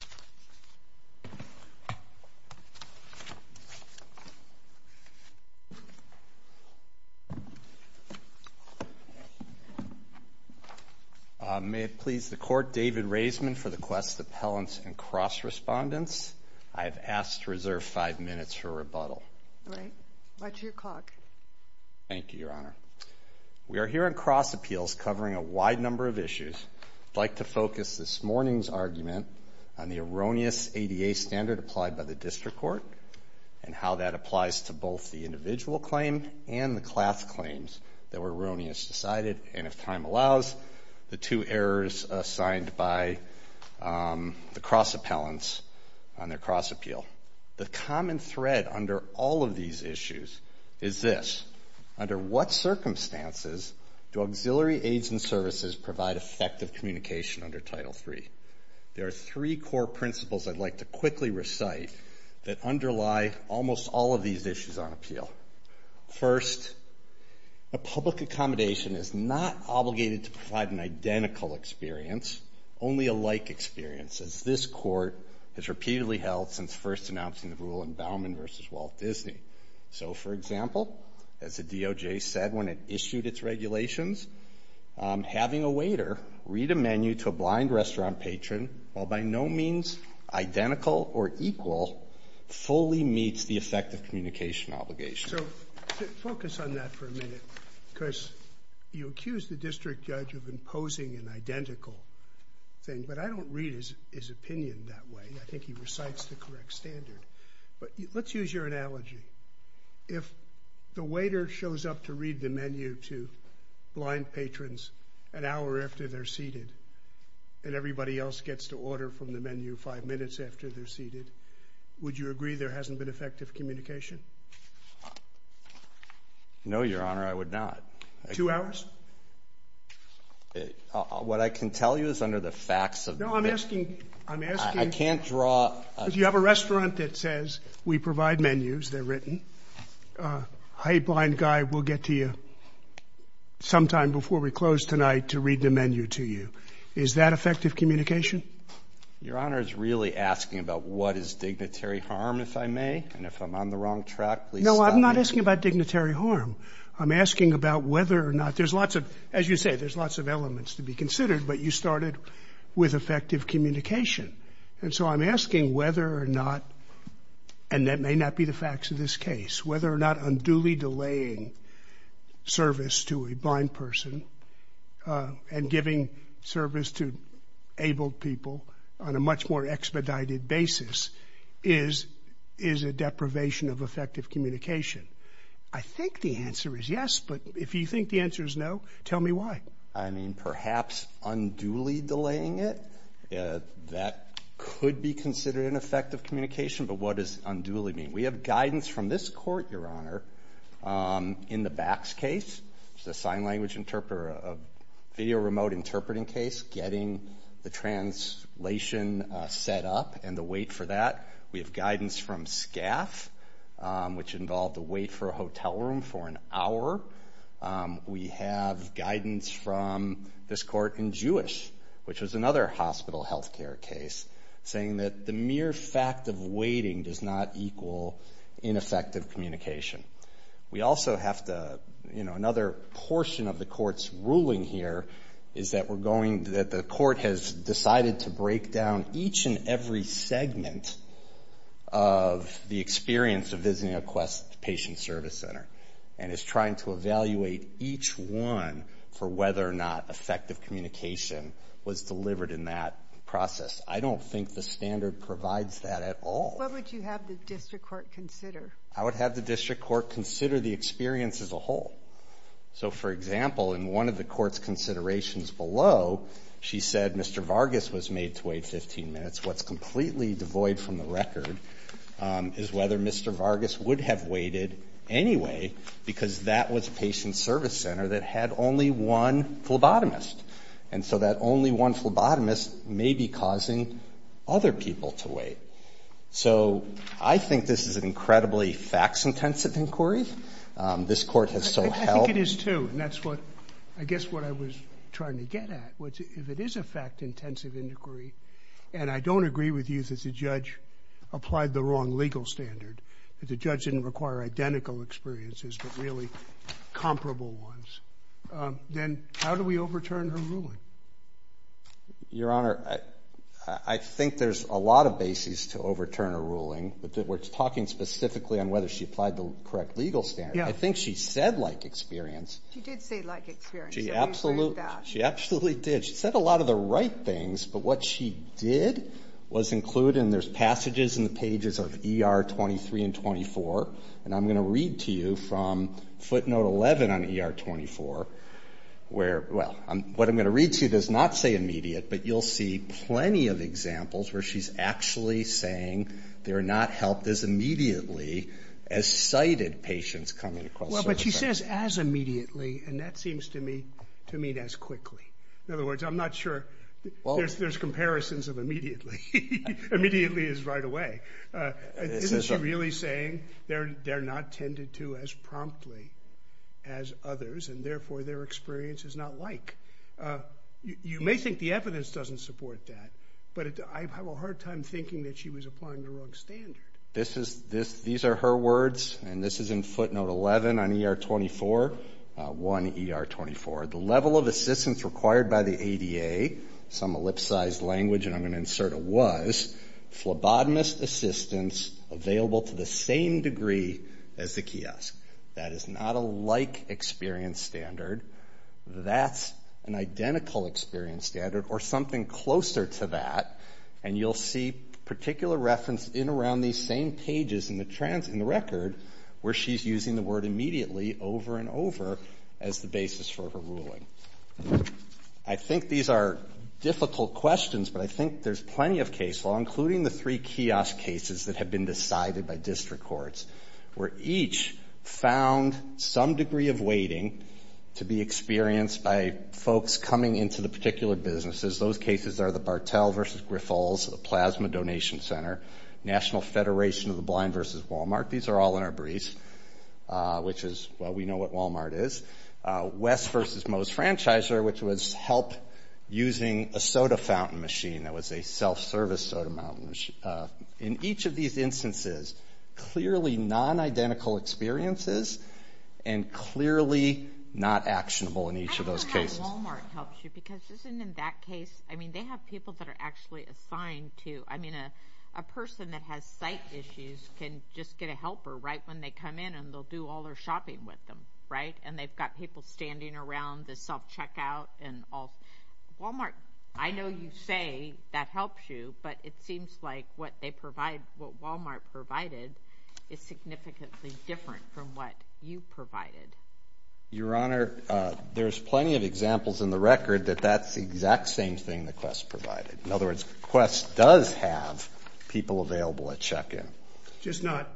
David Raisman May it please the Court, David Raisman for the Quest Appellants and Cross Respondents. I have asked to reserve five minutes for rebuttal. Watch your clock. Thank you, Your Honor. We are here on Cross Appeals covering a wide number of issues. I'd like to focus this morning's argument on the erroneous ADA standard applied by the District Court and how that applies to both the individual claim and the class claims that were erroneously cited, and if time allows, the two errors assigned by the cross appellants on their cross appeal. The common thread under all of these issues is this, under what circumstances do auxiliary aids and services provide effective communication under Title III? There are three core principles I'd like to quickly recite that underlie almost all of these issues on appeal. First, a public accommodation is not obligated to provide an identical experience, only a like experience, as this Court has repeatedly held since first announcing the rule in Bauman v. Walt Disney. So, for example, as the DOJ said when it issued its regulations, having a waiter read a menu to a blind restaurant patron, while by no means identical or equal, fully meets the effective communication obligation. So, focus on that for a minute, because you accuse the district judge of imposing an identical thing, but I don't read his opinion that way. I think he recites the correct standard. But let's use your analogy. If the waiter shows up to read the menu to blind patrons an hour after they're seated, and everybody else gets to order from the menu five minutes after they're seated, would you agree there hasn't been effective communication? No, Your Honor, I would not. Two hours? What I can tell you is under the facts of the- No, I'm asking- I'm asking- I can't draw- You have a restaurant that says, we provide menus, they're written. A blind guy will get to you sometime before we close tonight to read the menu to you. Is that effective communication? Your Honor is really asking about what is dignitary harm, if I may, and if I'm on the wrong track, please stop me. No, I'm not asking about dignitary harm. I'm asking about whether or not, there's lots of, as you say, there's lots of elements to be considered, but you started with effective communication. And so I'm asking whether or not, and that may not be the facts of this case, whether or not unduly delaying service to a blind person and giving service to abled people on a much more expedited basis is a deprivation of effective communication. I think the answer is yes, but if you think the answer is no, tell me why. I mean, perhaps unduly delaying it, that could be considered an effective communication, but what does unduly mean? We have guidance from this court, Your Honor, in the BACS case, the sign language interpreter, a video remote interpreting case, getting the translation set up and the wait for that. We have guidance from SCAF, which involved the wait for a hotel room for an hour. We have guidance from this court in Jewish, which was another hospital health care case, saying that the mere fact of waiting does not equal ineffective communication. We also have to, another portion of the court's ruling here is that we're going, that the court has decided to break down each and every segment of the experience of visiting a patient service center. And is trying to evaluate each one for whether or not effective communication was delivered in that process. I don't think the standard provides that at all. Sotomayor, what would you have the district court consider? I would have the district court consider the experience as a whole. So, for example, in one of the court's considerations below, she said Mr. Vargas was made to wait 15 minutes. What's completely devoid from the record is whether Mr. Vargas would have waited anyway, because that was a patient service center that had only one phlebotomist. And so that only one phlebotomist may be causing other people to wait. So I think this is an incredibly facts intensive inquiry. This court has so held. I think it is too, and that's what, I guess what I was trying to get at, which if it is a fact intensive inquiry. And I don't agree with you that the judge applied the wrong legal standard. The judge didn't require identical experiences, but really comparable ones. Then how do we overturn her ruling? Your Honor, I think there's a lot of bases to overturn a ruling. We're talking specifically on whether she applied the correct legal standard. I think she said like experience. She did say like experience. She absolutely did. She said a lot of the right things, but what she did was include, and there's in the pages of ER 23 and 24. And I'm going to read to you from footnote 11 on ER 24, where, well, what I'm going to read to you does not say immediate, but you'll see plenty of examples where she's actually saying they're not helped as immediately as cited patients coming across service centers. Well, but she says as immediately, and that seems to me to mean as quickly. In other words, I'm not sure there's comparisons of immediately. Immediately is right away. Isn't she really saying they're not tended to as promptly as others, and therefore their experience is not like? You may think the evidence doesn't support that, but I have a hard time thinking that she was applying the wrong standard. These are her words, and this is in footnote 11 on ER 24, 1 ER 24. The level of assistance required by the ADA, some ellipsized language, and I'm going to insert a was, phlebotomist assistance available to the same degree as the kiosk. That is not a like experience standard. That's an identical experience standard or something closer to that, and you'll see particular reference in around these same pages in the record where she's using the word immediately over and over as the basis for her ruling. I think these are difficult questions, but I think there's plenty of case law, including the three kiosk cases that have been decided by district courts where each found some degree of waiting to be experienced by folks coming into the particular businesses. Those cases are the Bartell versus Griffalls, the Plasma Donation Center, National Federation of the Blind versus Walmart. These are all in our briefs, which is, well, we know what Walmart is. West versus Moe's Franchiser, which was help using a soda fountain machine that was a self-service soda fountain machine. In each of these instances, clearly non-identical experiences and clearly not actionable in each of those cases. I don't know how Walmart helps you because isn't in that case, I mean, they have people that are actually assigned to, I mean, a person that has sight issues can just get a helper right when they come in and they'll do all their shopping with them, right? And they've got people standing around the self-checkout and all. Walmart, I know you say that helps you, but it seems like what they provide, what Walmart provided is significantly different from what you provided. Your Honor, there's plenty of examples in the record that that's the exact same thing that Quest provided. In other words, Quest does have people available at check-in. Just not,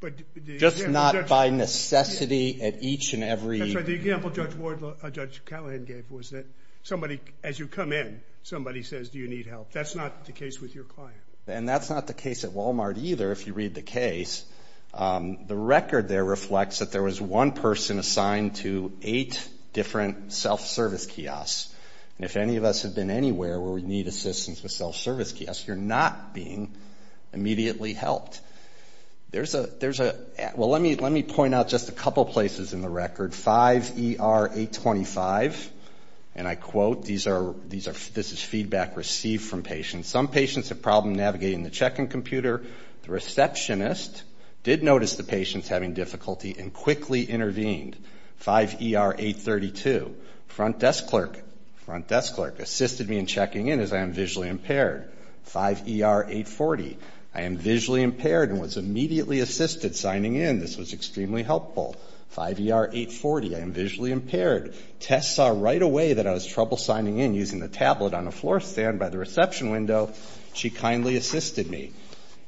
but the example Judge... Just not by necessity at each and every... That's right, the example Judge Callahan gave was that somebody, as you come in, somebody says, do you need help? That's not the case with your client. And that's not the case at Walmart either, if you read the case. The record there reflects that there was one person assigned to eight different self-service kiosks. And if any of us have been anywhere where we need assistance with self-service kiosks, you're not being immediately helped. There's a... Well, let me point out just a couple places in the record. 5ER825, and I quote, this is feedback received from patients. Some patients have problem navigating the check-in computer. The receptionist did notice the patients having difficulty and quickly intervened. 5ER832, front desk clerk assisted me in checking in as I am visually impaired. 5ER840, I am visually impaired and was immediately assisted signing in. This was extremely helpful. 5ER840, I am visually impaired. Tess saw right away that I was trouble signing in using the tablet on a floor stand by the reception window. She kindly assisted me.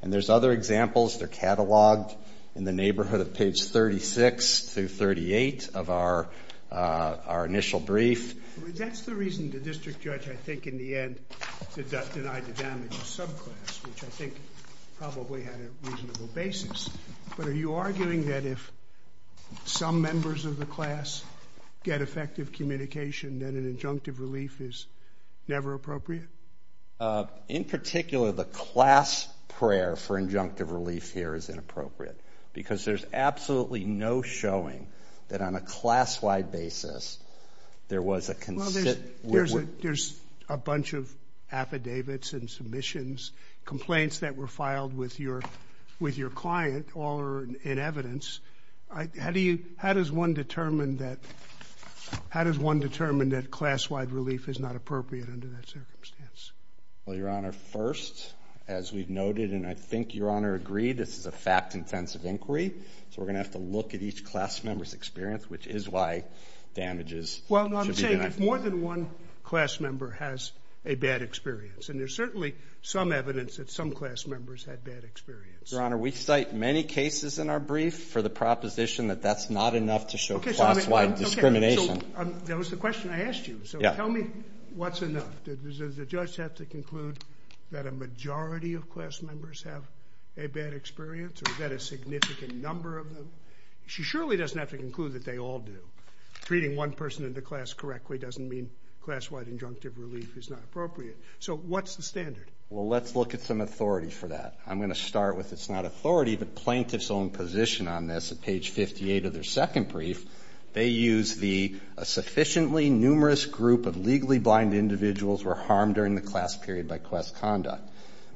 And there's other examples. They're catalogued in the neighborhood of page 36 through 38 of our initial brief. That's the reason the district judge, I think, in the end, denied the damage to subclass, which I think probably had a reasonable basis. But are you arguing that if some members of the class get effective communication, then an injunctive relief is never appropriate? In particular, the class prayer for injunctive relief here is inappropriate because there's absolutely no showing that on a class-wide basis, there was a consistent with what you're saying. Well, there's a bunch of affidavits and submissions, complaints that were filed with your client, all are in evidence. How does one determine that class-wide relief is not appropriate under that circumstance? Well, Your Honor, first, as we've noted, and I think Your Honor agreed, this is a fact-intensive inquiry, so we're going to have to look at each class member's experience, which is why damages should be denied. Well, no, I'm saying if more than one class member has a bad experience, and there's certainly some evidence that some class members had bad experience. Your Honor, we cite many cases in our brief for the proposition that that's not enough to show class-wide discrimination. Okay, so that was the question I asked you, so tell me what's enough. Does the judge have to conclude that a majority of class members have a bad experience or that a significant number of them? She surely doesn't have to conclude that they all do. Treating one person in the class correctly doesn't mean class-wide injunctive relief is not appropriate, so what's the standard? Well, let's look at some authority for that. I'm going to start with it's not authority, but plaintiff's own position on this at page 58 of their second brief, they use the sufficiently numerous group of legally blind individuals were harmed during the class period by class conduct.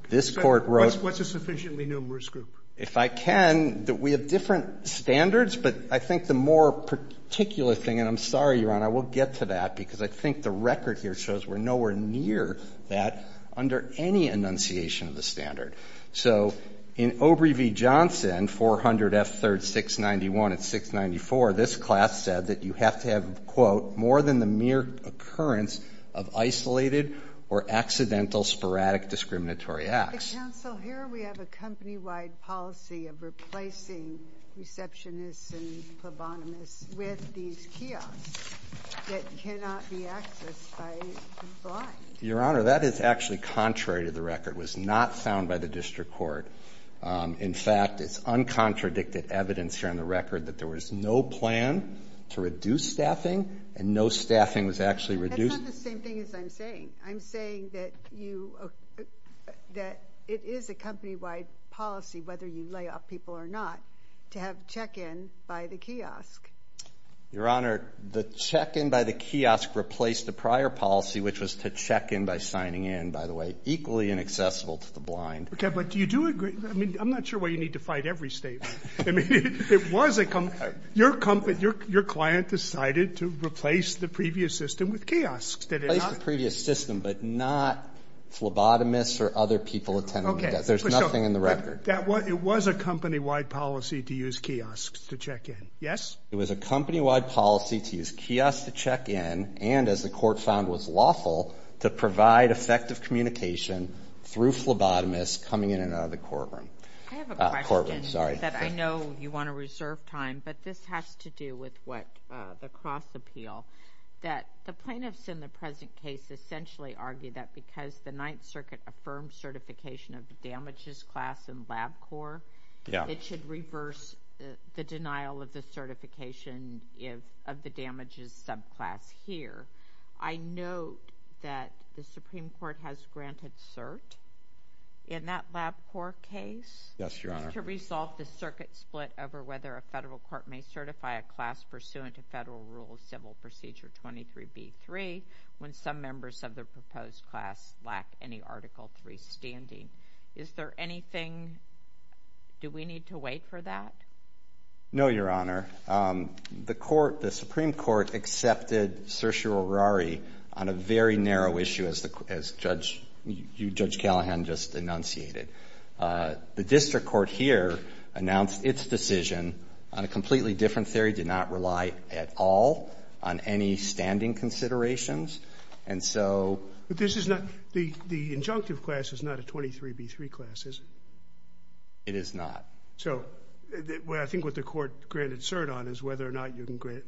This court wrote. What's a sufficiently numerous group? If I can, we have different standards, but I think the more particular thing, and I'm sorry, Your Honor, we'll get to that, because I think the record here shows we're nowhere near that under any enunciation of the standard. So in Obrey v. Johnson, 400 F. 3rd 691 and 694, this class said that you have to have, quote, more than the mere occurrence of isolated or accidental sporadic discriminatory acts. But, counsel, here we have a company-wide policy of replacing receptionists and plebonimists with these kiosks that cannot be accessed by the blind. Your Honor, that is actually contrary to the record. It was not found by the district court. In fact, it's uncontradicted evidence here on the record that there was no plan to reduce staffing, and no staffing was actually reduced. That's not the same thing as I'm saying. I'm saying that you, that it is a company-wide policy, whether you lay off people or not, to have check-in by the kiosk. Your Honor, the check-in by the kiosk replaced the prior policy, which was to check-in by signing in, by the way, equally inaccessible to the blind. Okay, but do you do, I mean, I'm not sure why you need to fight every statement. I mean, it was a, your client decided to replace the previous system with kiosks. Replace the previous system, but not phlebotomists or other people attending. Okay. There's nothing in the record. That was, it was a company-wide policy to use kiosks to check-in. Yes? It was a company-wide policy to use kiosks to check-in, and as the court found was lawful, to provide effective communication through phlebotomists coming in and out of the courtroom. I have a question. That I know you want to reserve time, but this has to do with what, the cross-appeal. That the plaintiffs in the present case essentially argue that because the Ninth Circuit affirmed certification of the damages class in LabCorp. Yeah. It should reverse the denial of the certification of the damages subclass here. I note that the Supreme Court has granted cert in that LabCorp case. Yes, Your Honor. To resolve the circuit split over whether a federal court may certify a class pursuant to Federal Rule of Civil Procedure 23b-3 when some members of the proposed class lack any Article III standing. Is there anything, do we need to wait for that? No, Your Honor. The court, the Supreme Court accepted certiorari on a very narrow issue as Judge Callahan just enunciated. The district court here announced its decision on a completely different theory, did not rely at all on any standing considerations. And so. But this is not, the injunctive class is not a 23b-3 class, is it? It is not. So I think what the court granted cert on is whether or not you can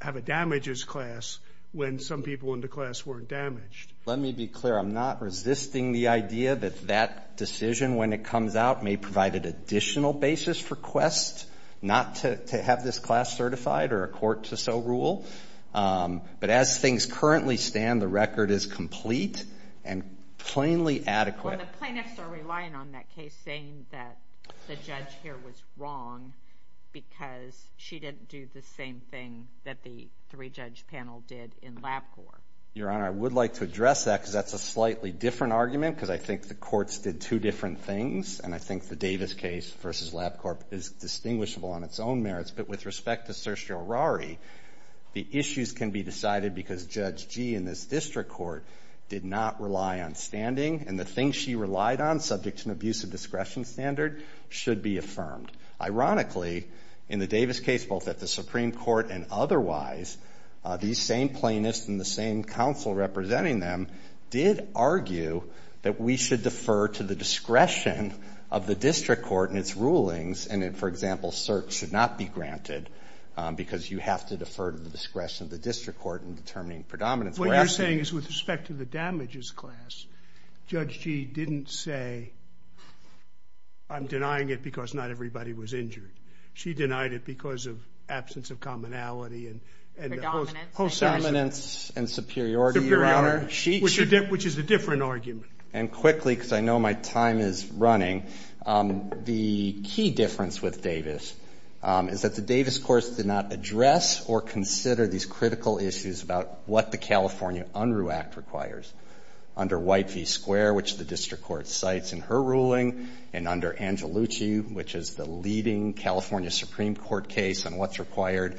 have a damages class when some people in the class weren't damaged. Let me be clear. I'm not resisting the idea that that decision, when it comes out, may provide an additional basis for Quest not to have this class certified or a court to so rule. But as things currently stand, the record is complete and plainly adequate. Well, the plaintiffs are relying on that case saying that the judge here was wrong because she didn't do the same thing that the three-judge panel did in LabCorp. Your Honor, I would like to address that because that's a slightly different argument because I think the courts did two different things. And I think the Davis case versus LabCorp is distinguishable on its own merits. But with respect to Saoirse Arari, the issues can be decided because Judge Gee in this district court did not rely on standing and the things she relied on, subject to an abuse of discretion standard, should be affirmed. Ironically, in the Davis case, both at the Supreme Court and otherwise, these same plaintiffs and the same counsel representing them did argue that we should defer to the discretion of the district court and its rulings. And for example, cert should not be granted because you have to defer to the discretion of the district court in determining predominance. What you're saying is with respect to the damages class, Judge Gee didn't say, I'm denying it because not everybody was injured. She denied it because of absence of commonality and predominance. Predominance and superiority, Your Honor. Superiority, which is a different argument. And quickly, because I know my time is running, the key difference with Davis is that the Davis courts did not address or consider these critical issues about what the California Unruh Act requires under White v. Square, which the district court cites in her ruling, and under Angelucci, which is the leading California Supreme Court case on what's required,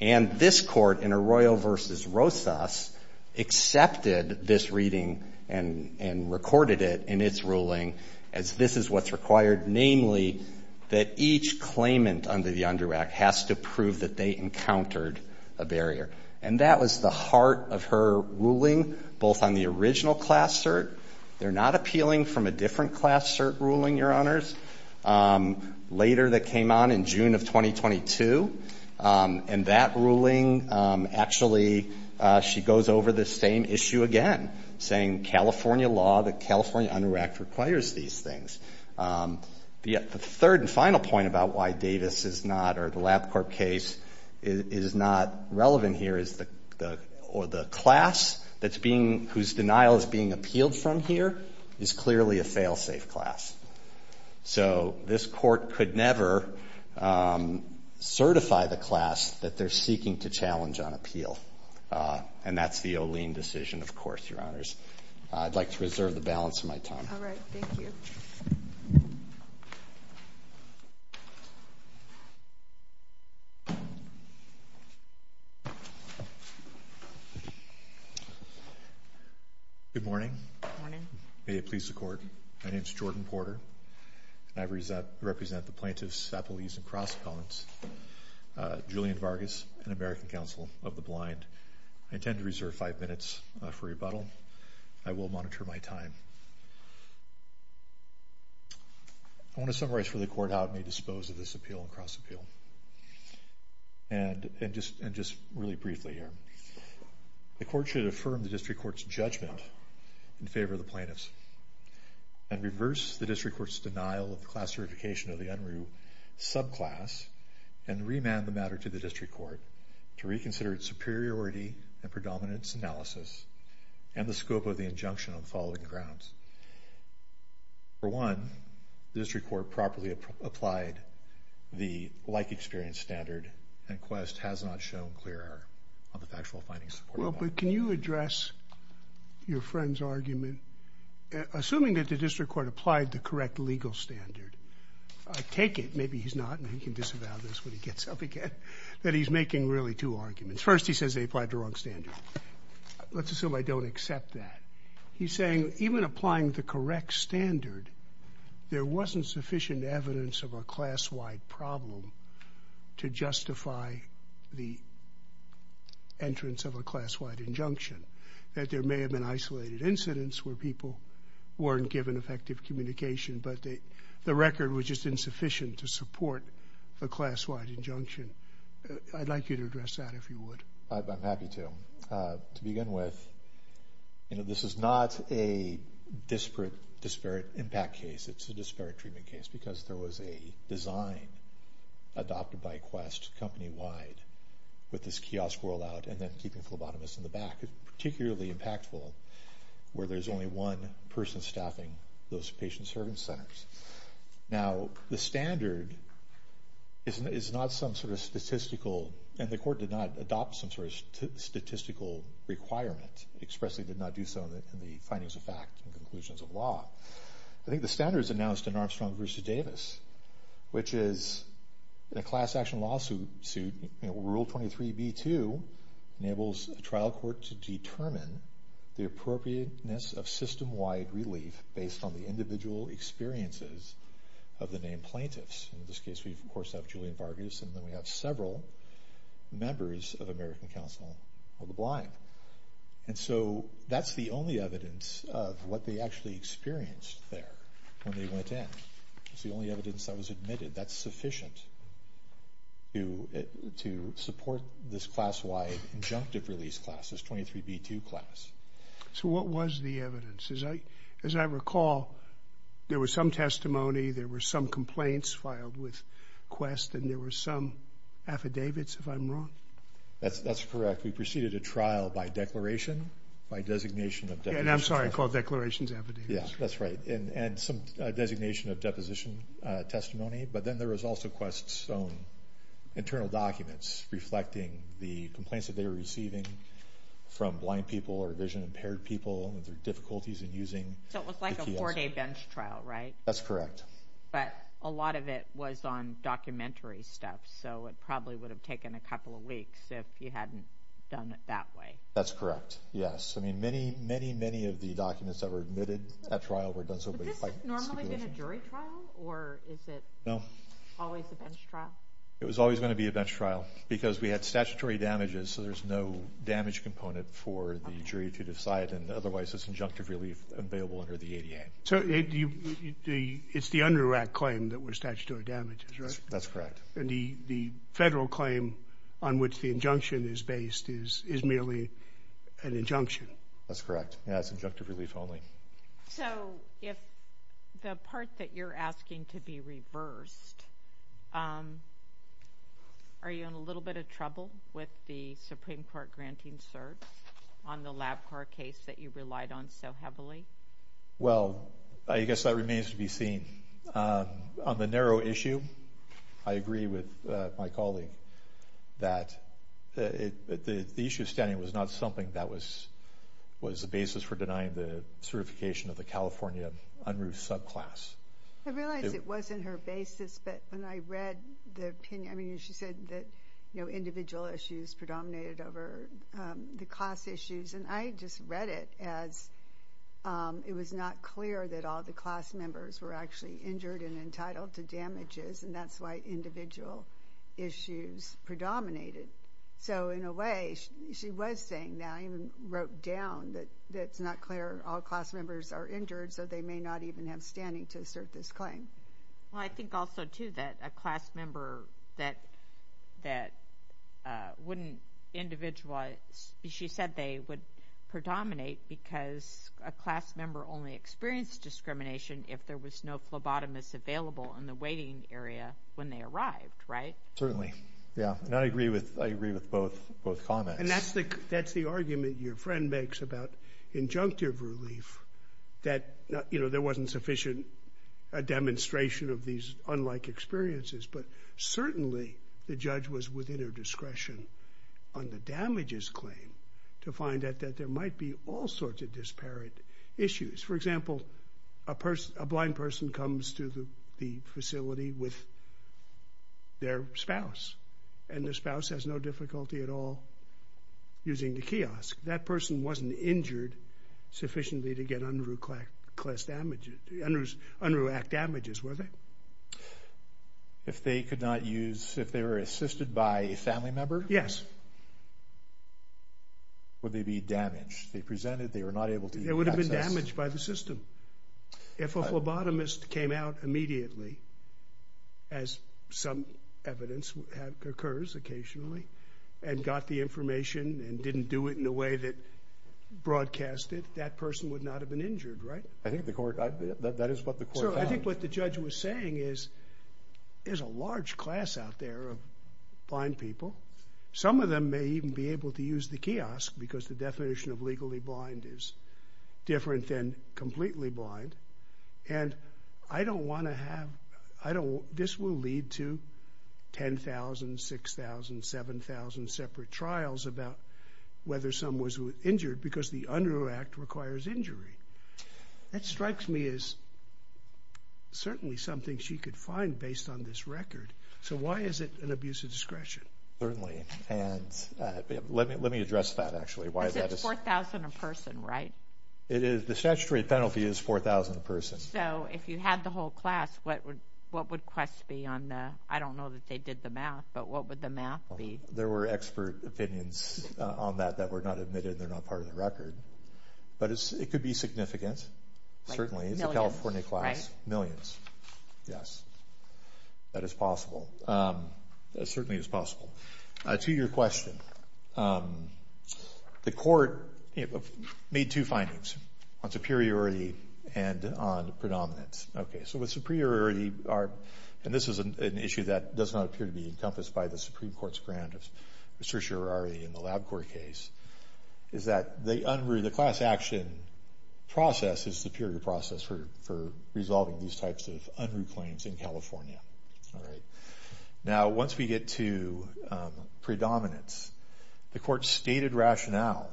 and this Court in Arroyo v. Rosas accepted this reading and recorded it in its ruling as this is what's required, namely that each claimant under the Unruh Act has to prove that they encountered a barrier. And that was the heart of her ruling, both on the original class cert, they're not appealing from a different class cert ruling, Your Honors, later that came on in June of 2022, and that ruling actually, she goes over the same issue again, saying in California law, the California Unruh Act requires these things. The third and final point about why Davis is not, or the LabCorp case is not relevant here is the class that's being, whose denial is being appealed from here is clearly a fail-safe class. So this court could never certify the class that they're seeking to challenge on appeal, and that's the O'Lean decision, of course, Your Honors. I'd like to reserve the balance of my time. All right. Thank you. Good morning. Good morning. May it please the Court, my name's Jordan Porter, and I represent the plaintiffs, appellees, and cross-appellants, Julian Vargas and American Counsel of the Blind. I intend to reserve five minutes for rebuttal. I will monitor my time. I want to summarize for the Court how it may dispose of this appeal and cross-appeal, and just really briefly here. The Court should affirm the district court's judgment in favor of the plaintiffs, and reverse the district court's denial of the class certification of the Unruh subclass, and remand the matter to the district court to reconsider its superiority and predominance analysis, and the scope of the injunction on the following grounds. For one, the district court properly applied the like-experience standard, and Quest has not shown clearer on the factual findings supporting that. Well, but can you address your friend's argument? Assuming that the district court applied the correct legal standard, I take it, maybe he's not, and he can disavow this when he gets up again, that he's making really two arguments. First, he says they applied the wrong standard. Let's assume I don't accept that. He's saying even applying the correct standard, there wasn't sufficient evidence of a class-wide problem to justify the entrance of a class-wide injunction, that there may have been isolated incidents where people weren't given effective communication, but the record was just insufficient to support a class-wide injunction. I'd like you to address that, if you would. I'm happy to. To begin with, you know, this is not a disparate impact case. It's a disparate treatment case, because there was a design adopted by Quest company-wide with this kiosk rolled out, and then keeping phlebotomists in the back. It's particularly impactful where there's only one person staffing those patient-servant centers. Now, the standard is not some sort of statistical, and the court did not adopt some sort of statistical requirement, expressly did not do so in the findings of fact and conclusions of law. I think the standard is announced in Armstrong v. Davis, which is a class-action lawsuit. Rule 23b-2 enables a trial court to determine the appropriateness of system-wide relief based on the individual experiences of the named plaintiffs. In this case, we, of course, have Julian Vargas, and then we have several members of American Council of the Blind, and so that's the only evidence of what they actually experienced there when they went in. It's the only evidence that was admitted. That's sufficient to support this class-wide injunctive release class, this 23b-2 class. So what was the evidence? As I recall, there was some testimony, there were some complaints filed with Quest, and there were some affidavits, if I'm wrong? That's correct. We preceded a trial by declaration, by designation of deposition. And I'm sorry, I called declarations affidavits. Yeah, that's right, and some designation of deposition testimony, but then there was also Quest's own internal documents reflecting the complaints that they were receiving from blind people or vision-impaired people and their difficulties in using the TIS. So it was like a four-day bench trial, right? That's correct. But a lot of it was on documentary stuff, so it probably would have taken a couple of weeks if you hadn't done it that way. That's correct, yes. I mean, many, many, many of the documents that were admitted at trial were done so by stipulation. Would this have normally been a jury trial, or is it always a bench trial? It was always going to be a bench trial, because we had statutory damages, so there's no damage component for the jury to decide, and otherwise there's injunctive relief available under the ADA. So it's the UNRRAC claim that were statutory damages, right? That's correct. And the federal claim on which the injunction is based is merely an injunction? That's correct. Yeah, it's injunctive relief only. So if the part that you're asking to be reversed, are you in a little bit of trouble with the Supreme Court granting certs on the LabCorp case that you relied on so heavily? Well, I guess that remains to be seen. On the narrow issue, I agree with my colleague that the issue of standing was not something that was the basis for denying the certification of the California UNRRAC subclass. I realize it wasn't her basis, but when I read the opinion, I mean, she said that, you know, individual issues predominated over the class issues. And I just read it as it was not clear that all the class members were actually injured and entitled to damages, and that's why individual issues predominated. So in a way, she was saying that, I even wrote down that it's not clear all class members are injured, so they may not even have standing to assert this claim. Well, I think also, too, that a class member that wouldn't individualize, she said they would predominate because a class member only experienced discrimination if there was no phlebotomist available in the waiting area when they arrived, right? Certainly. Yeah. And I agree with both comments. And that's the argument your friend makes about injunctive relief, that, you know, there wasn't sufficient demonstration of these unlike experiences, but certainly the judge was within her discretion on the damages claim to find that there might be all sorts of disparate issues. For example, a blind person comes to the facility with their spouse, and the spouse has no difficulty at all using the kiosk. That person wasn't injured sufficiently to get unruh act damages, were they? If they could not use, if they were assisted by a family member? Yes. Would they be damaged? They presented, they were not able to access. They would have been damaged by the system. If a phlebotomist came out immediately, as some evidence occurs occasionally, and got the information and didn't do it in a way that broadcast it, that person would not have been injured, right? I think the court, that is what the court found. Sir, I think what the judge was saying is, there's a large class out there of blind people. Some of them may even be able to use the kiosk because the definition of legally blind is different than completely blind. And I don't want to have, I don't, this will lead to 10,000, 6,000, 7,000 separate trials about whether someone was injured because the unruh act requires injury. That strikes me as certainly something she could find based on this record. So why is it an abuse of discretion? Certainly, and let me, let me address that actually. Why is that? Is it 4,000 a person, right? It is, the statutory penalty is 4,000 a person. So if you had the whole class, what would, what would Quest be on the, I don't know that they did the math, but what would the math be? There were expert opinions on that that were not admitted, they're not part of the record. But it could be significant, certainly. It's a California class. Millions, yes. That is possible. That certainly is possible. To your question, the court made two findings, on superiority and on predominance. Okay, so with superiority, our, and this is an issue that does not appear to be encompassed by the Supreme Court's grant of certiorari in the LabCorp case, is that the unruh, the class action process is superior process for, for resolving these types of unruh claims in California. All right. Now once we get to predominance, the court's stated rationale,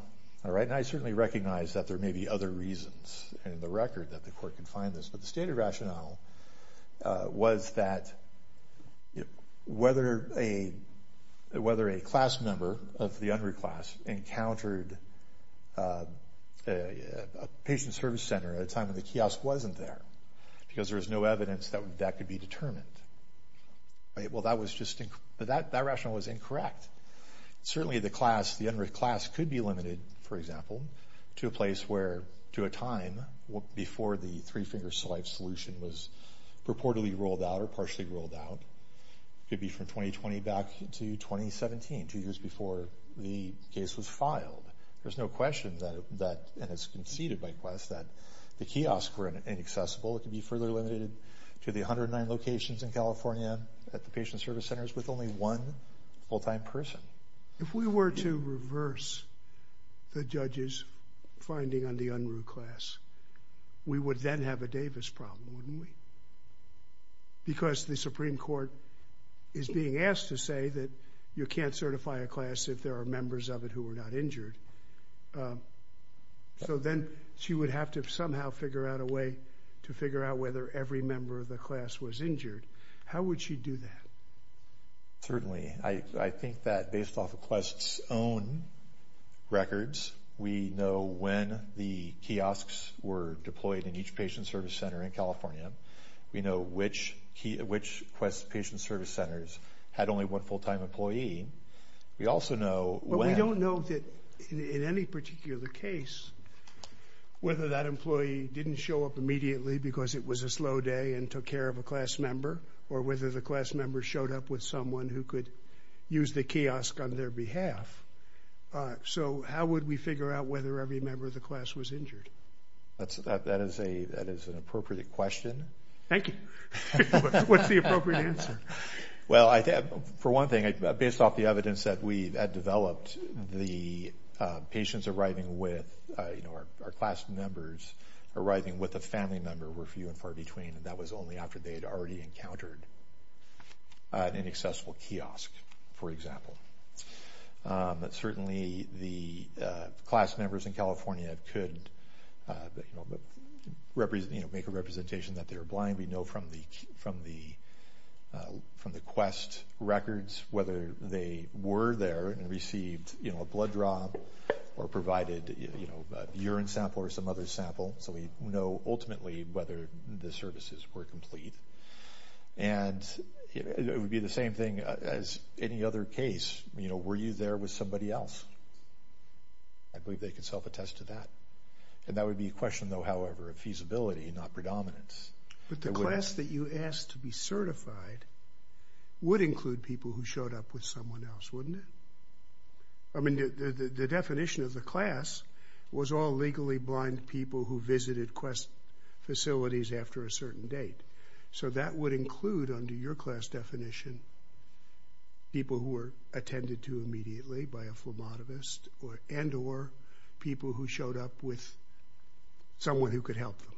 all right, and I certainly recognize that there may be other reasons in the record that the court can find this, but the stated rationale was that whether a, whether a class member of the unruh class encountered a patient service center at a time when the kiosk wasn't there, because there was no evidence that that could be determined. All right, well that was just, that rationale was incorrect. Certainly the class, the unruh class could be limited, for example, to a place where, to a time before the three-finger saliva solution was purportedly rolled out or partially rolled out. Could be from 2020 back to 2017, two years before the case was filed. There's no question that, and it's conceded by quest, that the kiosks were inaccessible. It could be further limited to the 109 locations in California at the patient service centers with only one full-time person. If we were to reverse the judge's finding on the unruh class, we would then have a Davis problem, wouldn't we? Because the Supreme Court is being asked to say that you can't certify a class if there are members of it who were not injured. So then she would have to somehow figure out a way to figure out whether every member of the class was injured. How would she do that? Certainly, I think that based off of quest's own records, we know when the kiosks were deployed in each patient service center in California. We know which quest patient service centers had only one full-time employee. We also know when. We don't know that in any particular case whether that employee didn't show up immediately because it was a slow day and took care of a class member or whether the class member showed up with someone who could use the kiosk on their behalf. So how would we figure out whether every member of the class was injured? That is an appropriate question. Thank you. What's the appropriate answer? Well, for one thing, based off the evidence that we had developed, the patients arriving with, you know, our class members arriving with a family member were few and far between. And that was only after they had already encountered an inaccessible kiosk, for example. But certainly, the class members in California could, you know, make a representation that they were blind. We know from the quest records whether they were there and received, you know, a blood draw or provided, you know, a urine sample or some other sample. So we know ultimately whether the services were complete. And it would be the same thing as any other case. You know, were you there with somebody else? I believe they can self-attest to that. And that would be a question, though, however, of feasibility, not predominance. But the class that you asked to be certified would include people who showed up with someone else, wouldn't it? I mean, the definition of the class was all legally blind people who visited quest facilities after a certain date. So that would include, under your class definition, people who were attended to immediately by a phlebotomist and or people who showed up with someone who could help them.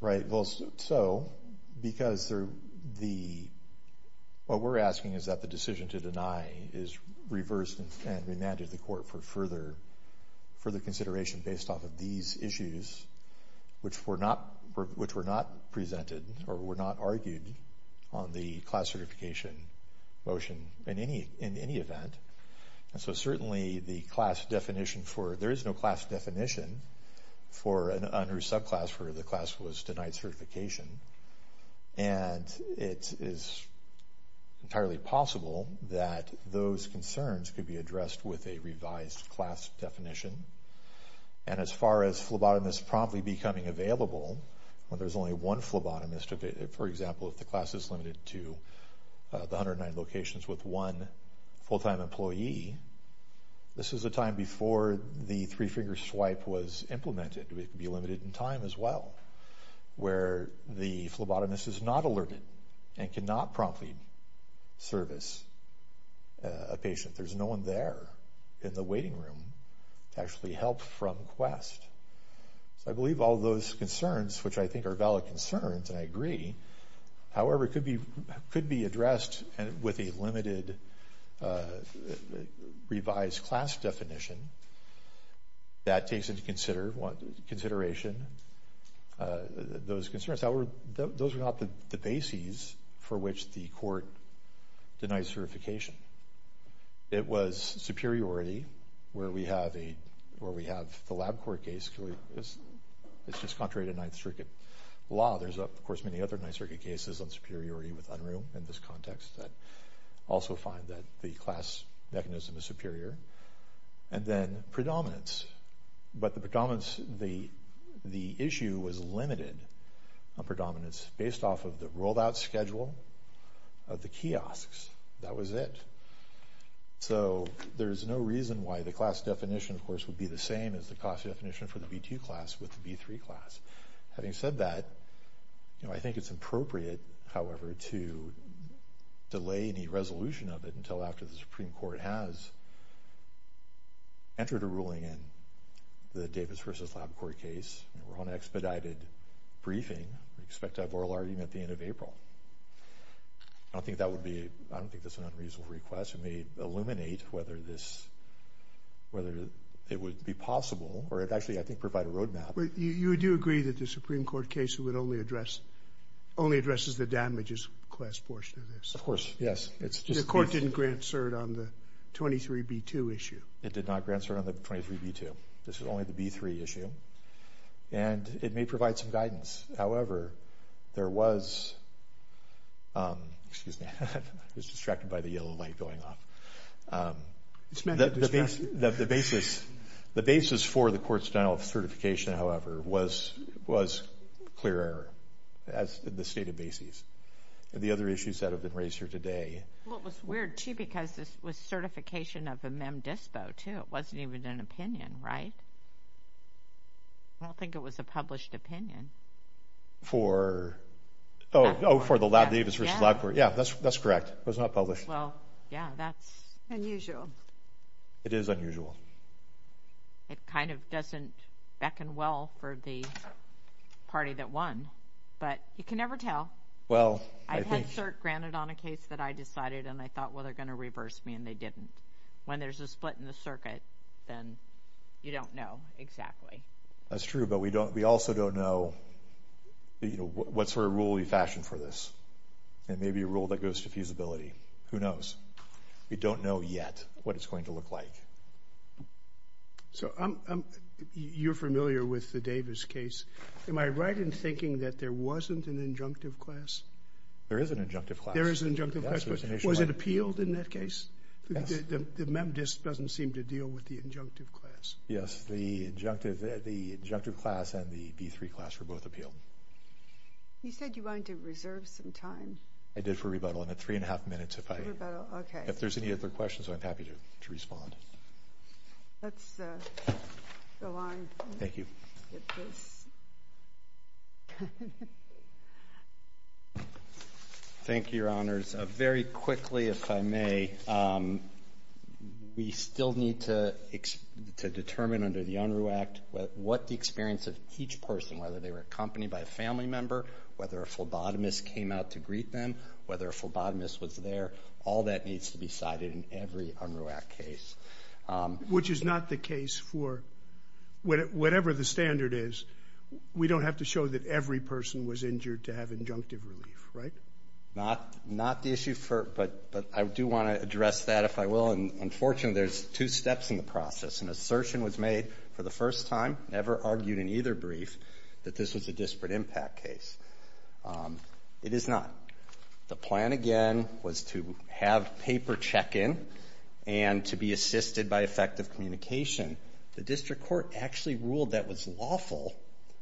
Right. Well, so because the, what we're asking is that the decision to deny is reversed and remanded to the court for further consideration based off of these issues, which were not presented or were not argued on the class certification motion in any event. And so certainly the class definition for, there is no class definition for, under subclass where the class was denied certification. And it is entirely possible that those concerns could be addressed with a revised class definition. And as far as phlebotomists promptly becoming available, when there's only one phlebotomist, for example, if the class is limited to the 109 locations with one full-time employee, this is a time before the three-finger swipe was implemented. It could be limited in time as well, where the phlebotomist is not alerted and cannot promptly service a patient. There's no one there in the waiting room to actually help from quest. So I believe all those concerns, which I think are valid concerns, and I agree. However, it could be addressed with a limited revised class definition. That takes into consideration those concerns. Those are not the bases for which the court denies certification. It was superiority where we have the lab court case. It's just contrary to Ninth Circuit law. There's, of course, many other Ninth Circuit cases on superiority with UNRU in this context that also find that the class mechanism is superior. And then predominance. But the predominance, the issue was limited on predominance based off of the rolled-out schedule of the kiosks. That was it. So there's no reason why the class definition, of course, would be the same as the class definition for the B2 class with the B3 class. Having said that, you know, I think it's appropriate, however, to delay any resolution of it until after the Supreme Court has entered a ruling in the Davis versus lab court case, and we're on an expedited briefing. We expect to have oral argument at the end of April. I don't think that would be, I don't think that's an unreasonable request. It may illuminate whether this, whether it would be possible, or it actually, I think, provide a roadmap. But you do agree that the Supreme Court case would only address, only addresses the damages class portion of this? Of course, yes. The court didn't grant cert on the 23B2 issue. It did not grant cert on the 23B2. This is only the B3 issue. And it may provide some guidance. However, there was, excuse me, I was distracted by the yellow light going off. The basis for the court's denial of certification, however, was clear error, as in the stated basis. And the other issues that have been raised here today. Well, it was weird, too, because this was certification of a MEM-DISPO, too. It wasn't even an opinion, right? I don't think it was a published opinion. For, oh, for the lab Davis versus lab court. Yeah, that's correct. It was not published. Well, yeah, that's. Unusual. It is unusual. It kind of doesn't beckon well for the party that won, but you can never tell. I've had cert granted on a case that I decided, and I thought, well, they're going to reverse me, and they didn't. When there's a split in the circuit, then you don't know exactly. That's true, but we also don't know what sort of rule we fashioned for this. And maybe a rule that goes to feasibility. Who knows? We don't know yet what it's going to look like. So you're familiar with the Davis case. Am I right in thinking that there wasn't an injunctive class? There is an injunctive class. There is an injunctive class. Was it appealed in that case? The MEM-DISP doesn't seem to deal with the injunctive class. Yes, the injunctive class and the B3 class were both appealed. You said you wanted to reserve some time. I did for rebuttal. I'm at three and a half minutes if there's any other questions, I'm happy to respond. Let's go on. Thank you. Thank you, Your Honors. Very quickly, if I may, we still need to determine under the Unruh Act what the experience of each person, whether they were accompanied by a family member, whether a phlebotomist came out to greet them, whether a phlebotomist was there, all that needs to be cited in every Unruh Act case. Which is not the case for whatever the standard is. We don't have to show that every person was injured to have injunctive relief, right? Not the issue, but I do want to address that if I will. And unfortunately, there's two steps in the process. An assertion was made for the first time, never argued in either brief, that this was a disparate impact case. It is not. The plan, again, was to have paper check-in and to be assisted by effective communication. The district court actually ruled that was lawful,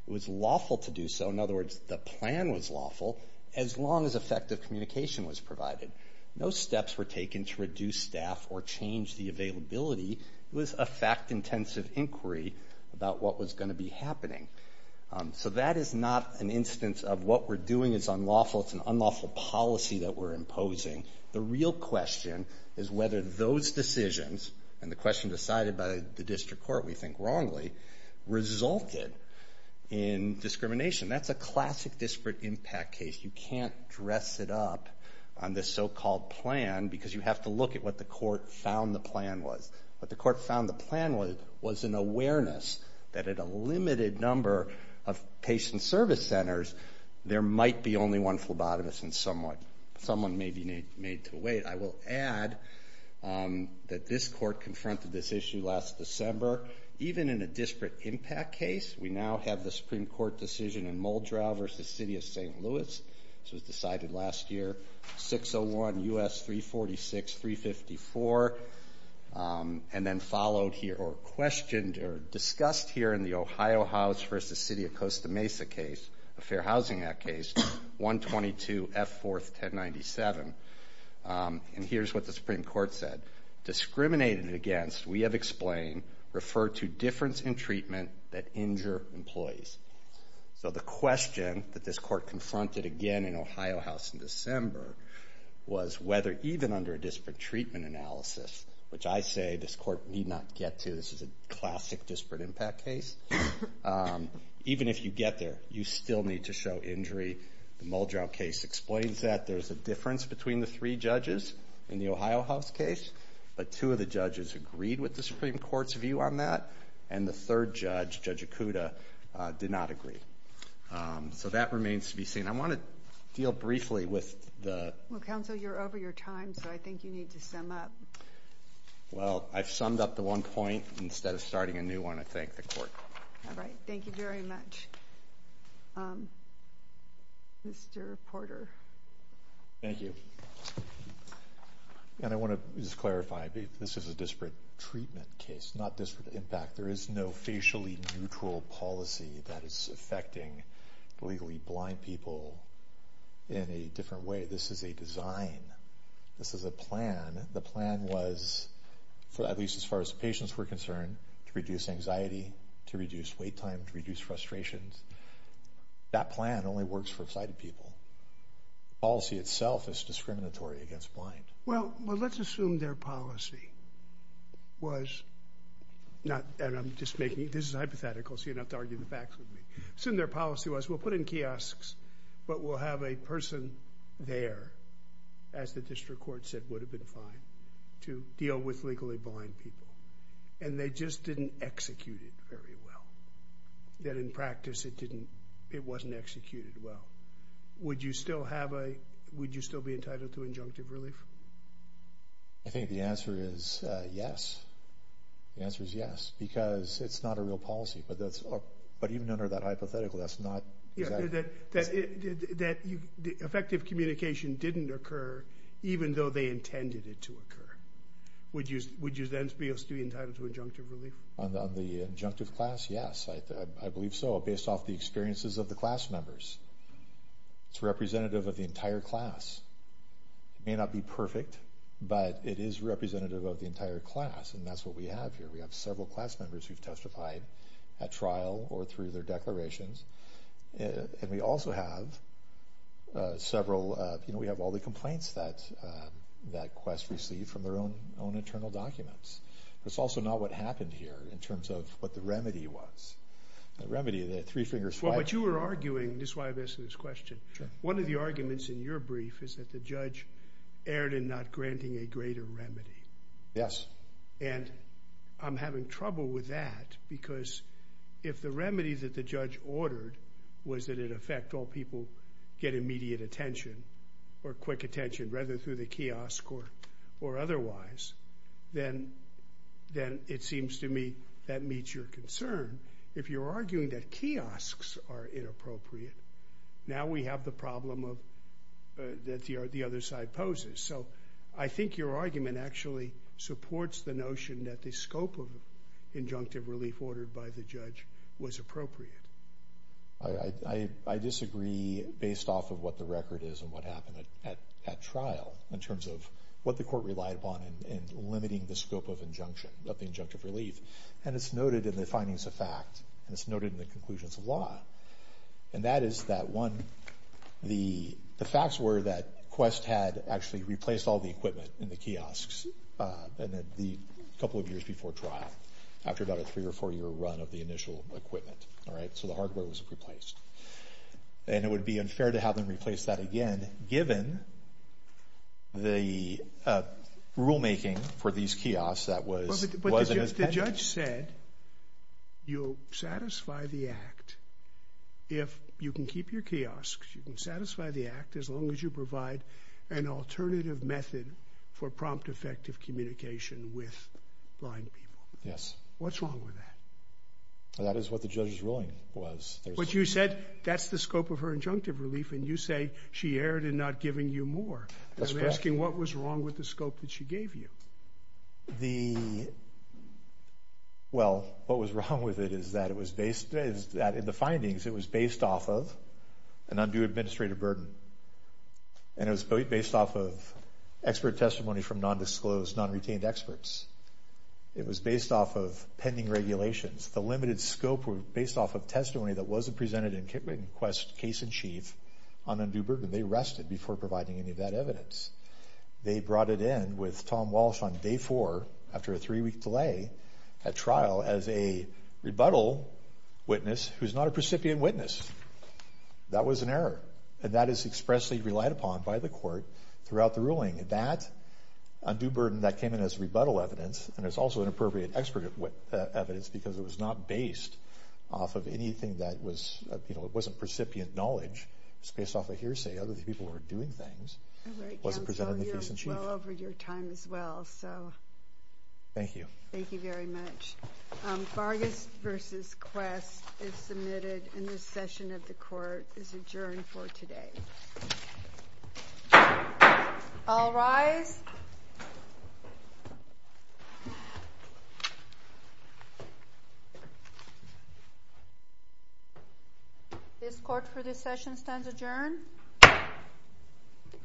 it was lawful to do so. In other words, the plan was lawful as long as effective communication was provided. No steps were taken to reduce staff or change the availability. It was a fact-intensive inquiry about what was going to be happening. So that is not an instance of what we're doing is unlawful. It's an unlawful policy that we're imposing. The real question is whether those decisions and the question decided by the district court, we think wrongly, resulted in discrimination. That's a classic disparate impact case. You can't dress it up on this so-called plan because you have to look at what the court found the plan was. What the court found the plan was an awareness that at a limited number of patient service centers, there might be only one phlebotomist and someone may be made to wait. I will add that this court confronted this issue last December. Even in a disparate impact case, we now have the Supreme Court decision in Muldrow versus City of St. Louis. This was decided last year, 601 U.S. 346, 354, and then followed here or questioned or discussed here in the Ohio House versus City of Costa Mesa case, a Fair Housing Act case, 122 F. 4th, 1097, and here's what the Supreme Court said. Discriminated against, we have explained, referred to difference in treatment that injure employees. So the question that this court confronted again in Ohio House in December was whether even under a disparate treatment analysis, which I say this court need not get to, this is a classic disparate impact case, even if you get there, you still need to show injury. The Muldrow case explains that. There's a difference between the three judges in the Ohio House case, but two of the judges agreed with the Supreme Court's view on that. And the third judge, Judge Acuda, did not agree. So that remains to be seen. I want to deal briefly with the- Well, counsel, you're over your time, so I think you need to sum up. Well, I've summed up the one point. Instead of starting a new one, I thank the court. All right. Thank you very much. Mr. Porter. Thank you. And I want to just clarify, this is a disparate treatment case, not disparate impact. There is no facially neutral policy that is affecting legally blind people in a different way. This is a design. This is a plan. The plan was, at least as far as patients were concerned, to reduce anxiety, to reduce wait time, to reduce frustrations. That plan only works for sighted people. The policy itself is discriminatory against blind. Well, let's assume their policy was not- And I'm just making- This is hypothetical, so you don't have to argue the facts with me. Assume their policy was, we'll put in kiosks, but we'll have a person there, as the district court said would have been fine, to deal with legally blind people. And they just didn't execute it very well. That in practice, it wasn't executed well. Would you still be entitled to injunctive relief? I think the answer is yes. The answer is yes, because it's not a real policy. But even under that hypothetical, that's not- That effective communication didn't occur, even though they intended it to occur. Would you then be entitled to injunctive relief? On the injunctive class, yes, I believe so, based off the experiences of the class members. It's representative of the entire class. It may not be perfect, but it is representative of the entire class. And that's what we have here. We have several class members who've testified at trial or through their declarations. And we also have several- You know, we have all the complaints that Quest received from their own internal documents. That's also not what happened here, in terms of what the remedy was. The remedy, the three fingers- Well, what you were arguing, and this is why I'm asking this question. One of the arguments in your brief is that the judge erred in not granting a greater remedy. Yes. And I'm having trouble with that, because if the remedy that the judge ordered was that, in effect, all people get immediate attention or quick attention, rather than through the kiosk or otherwise, then it seems to me that meets your concern. If you're arguing that kiosks are inappropriate, now we have the problem that the other side poses. So I think your argument actually supports the notion that the scope of injunctive relief ordered by the judge was appropriate. I disagree based off of what the record is and what happened at trial, in terms of what the court relied upon in limiting the scope of injunction, of the injunctive relief. And it's noted in the findings of fact, and it's noted in the conclusions of law. And that is that one, the facts were that Quest had actually replaced all the equipment in the kiosks, a couple of years before trial, after about a three or four year run of the initial equipment. All right, so the hardware was replaced. And it would be unfair to have them replace that again, given the rulemaking for these kiosks that was- The judge said, you'll satisfy the act if you can keep your kiosks, you can satisfy the act as long as you provide an alternative method for prompt effective communication with blind people. Yes. What's wrong with that? That is what the judge's ruling was. But you said that's the scope of her injunctive relief, and you say she erred in not giving you more. That's correct. I'm asking what was wrong with the scope that she gave you? The, well, what was wrong with it is that it was based, is that in the findings, it was based off of an undue administrative burden. And it was based off of expert testimony from non-disclosed, non-retained experts. It was based off of pending regulations. The limited scope were based off of testimony that wasn't presented in Quest's case in chief on undue burden. They rested before providing any of that evidence. They brought it in with Tom Walsh on day four, after a three week delay, at trial as a rebuttal witness who's not a precipient witness. That was an error, and that is expressly relied upon by the court throughout the ruling. That undue burden, that came in as rebuttal evidence, and it's also an appropriate expert evidence, because it was not based off of anything that was, you know, it wasn't precipient knowledge. It was based off a hearsay. Other people were doing things. It wasn't presented in the case in chief. Well over your time as well, so. Thank you. Thank you very much. Vargas versus Quest is submitted, and this session of the court is adjourned for today. All rise. This court for this session stands adjourned.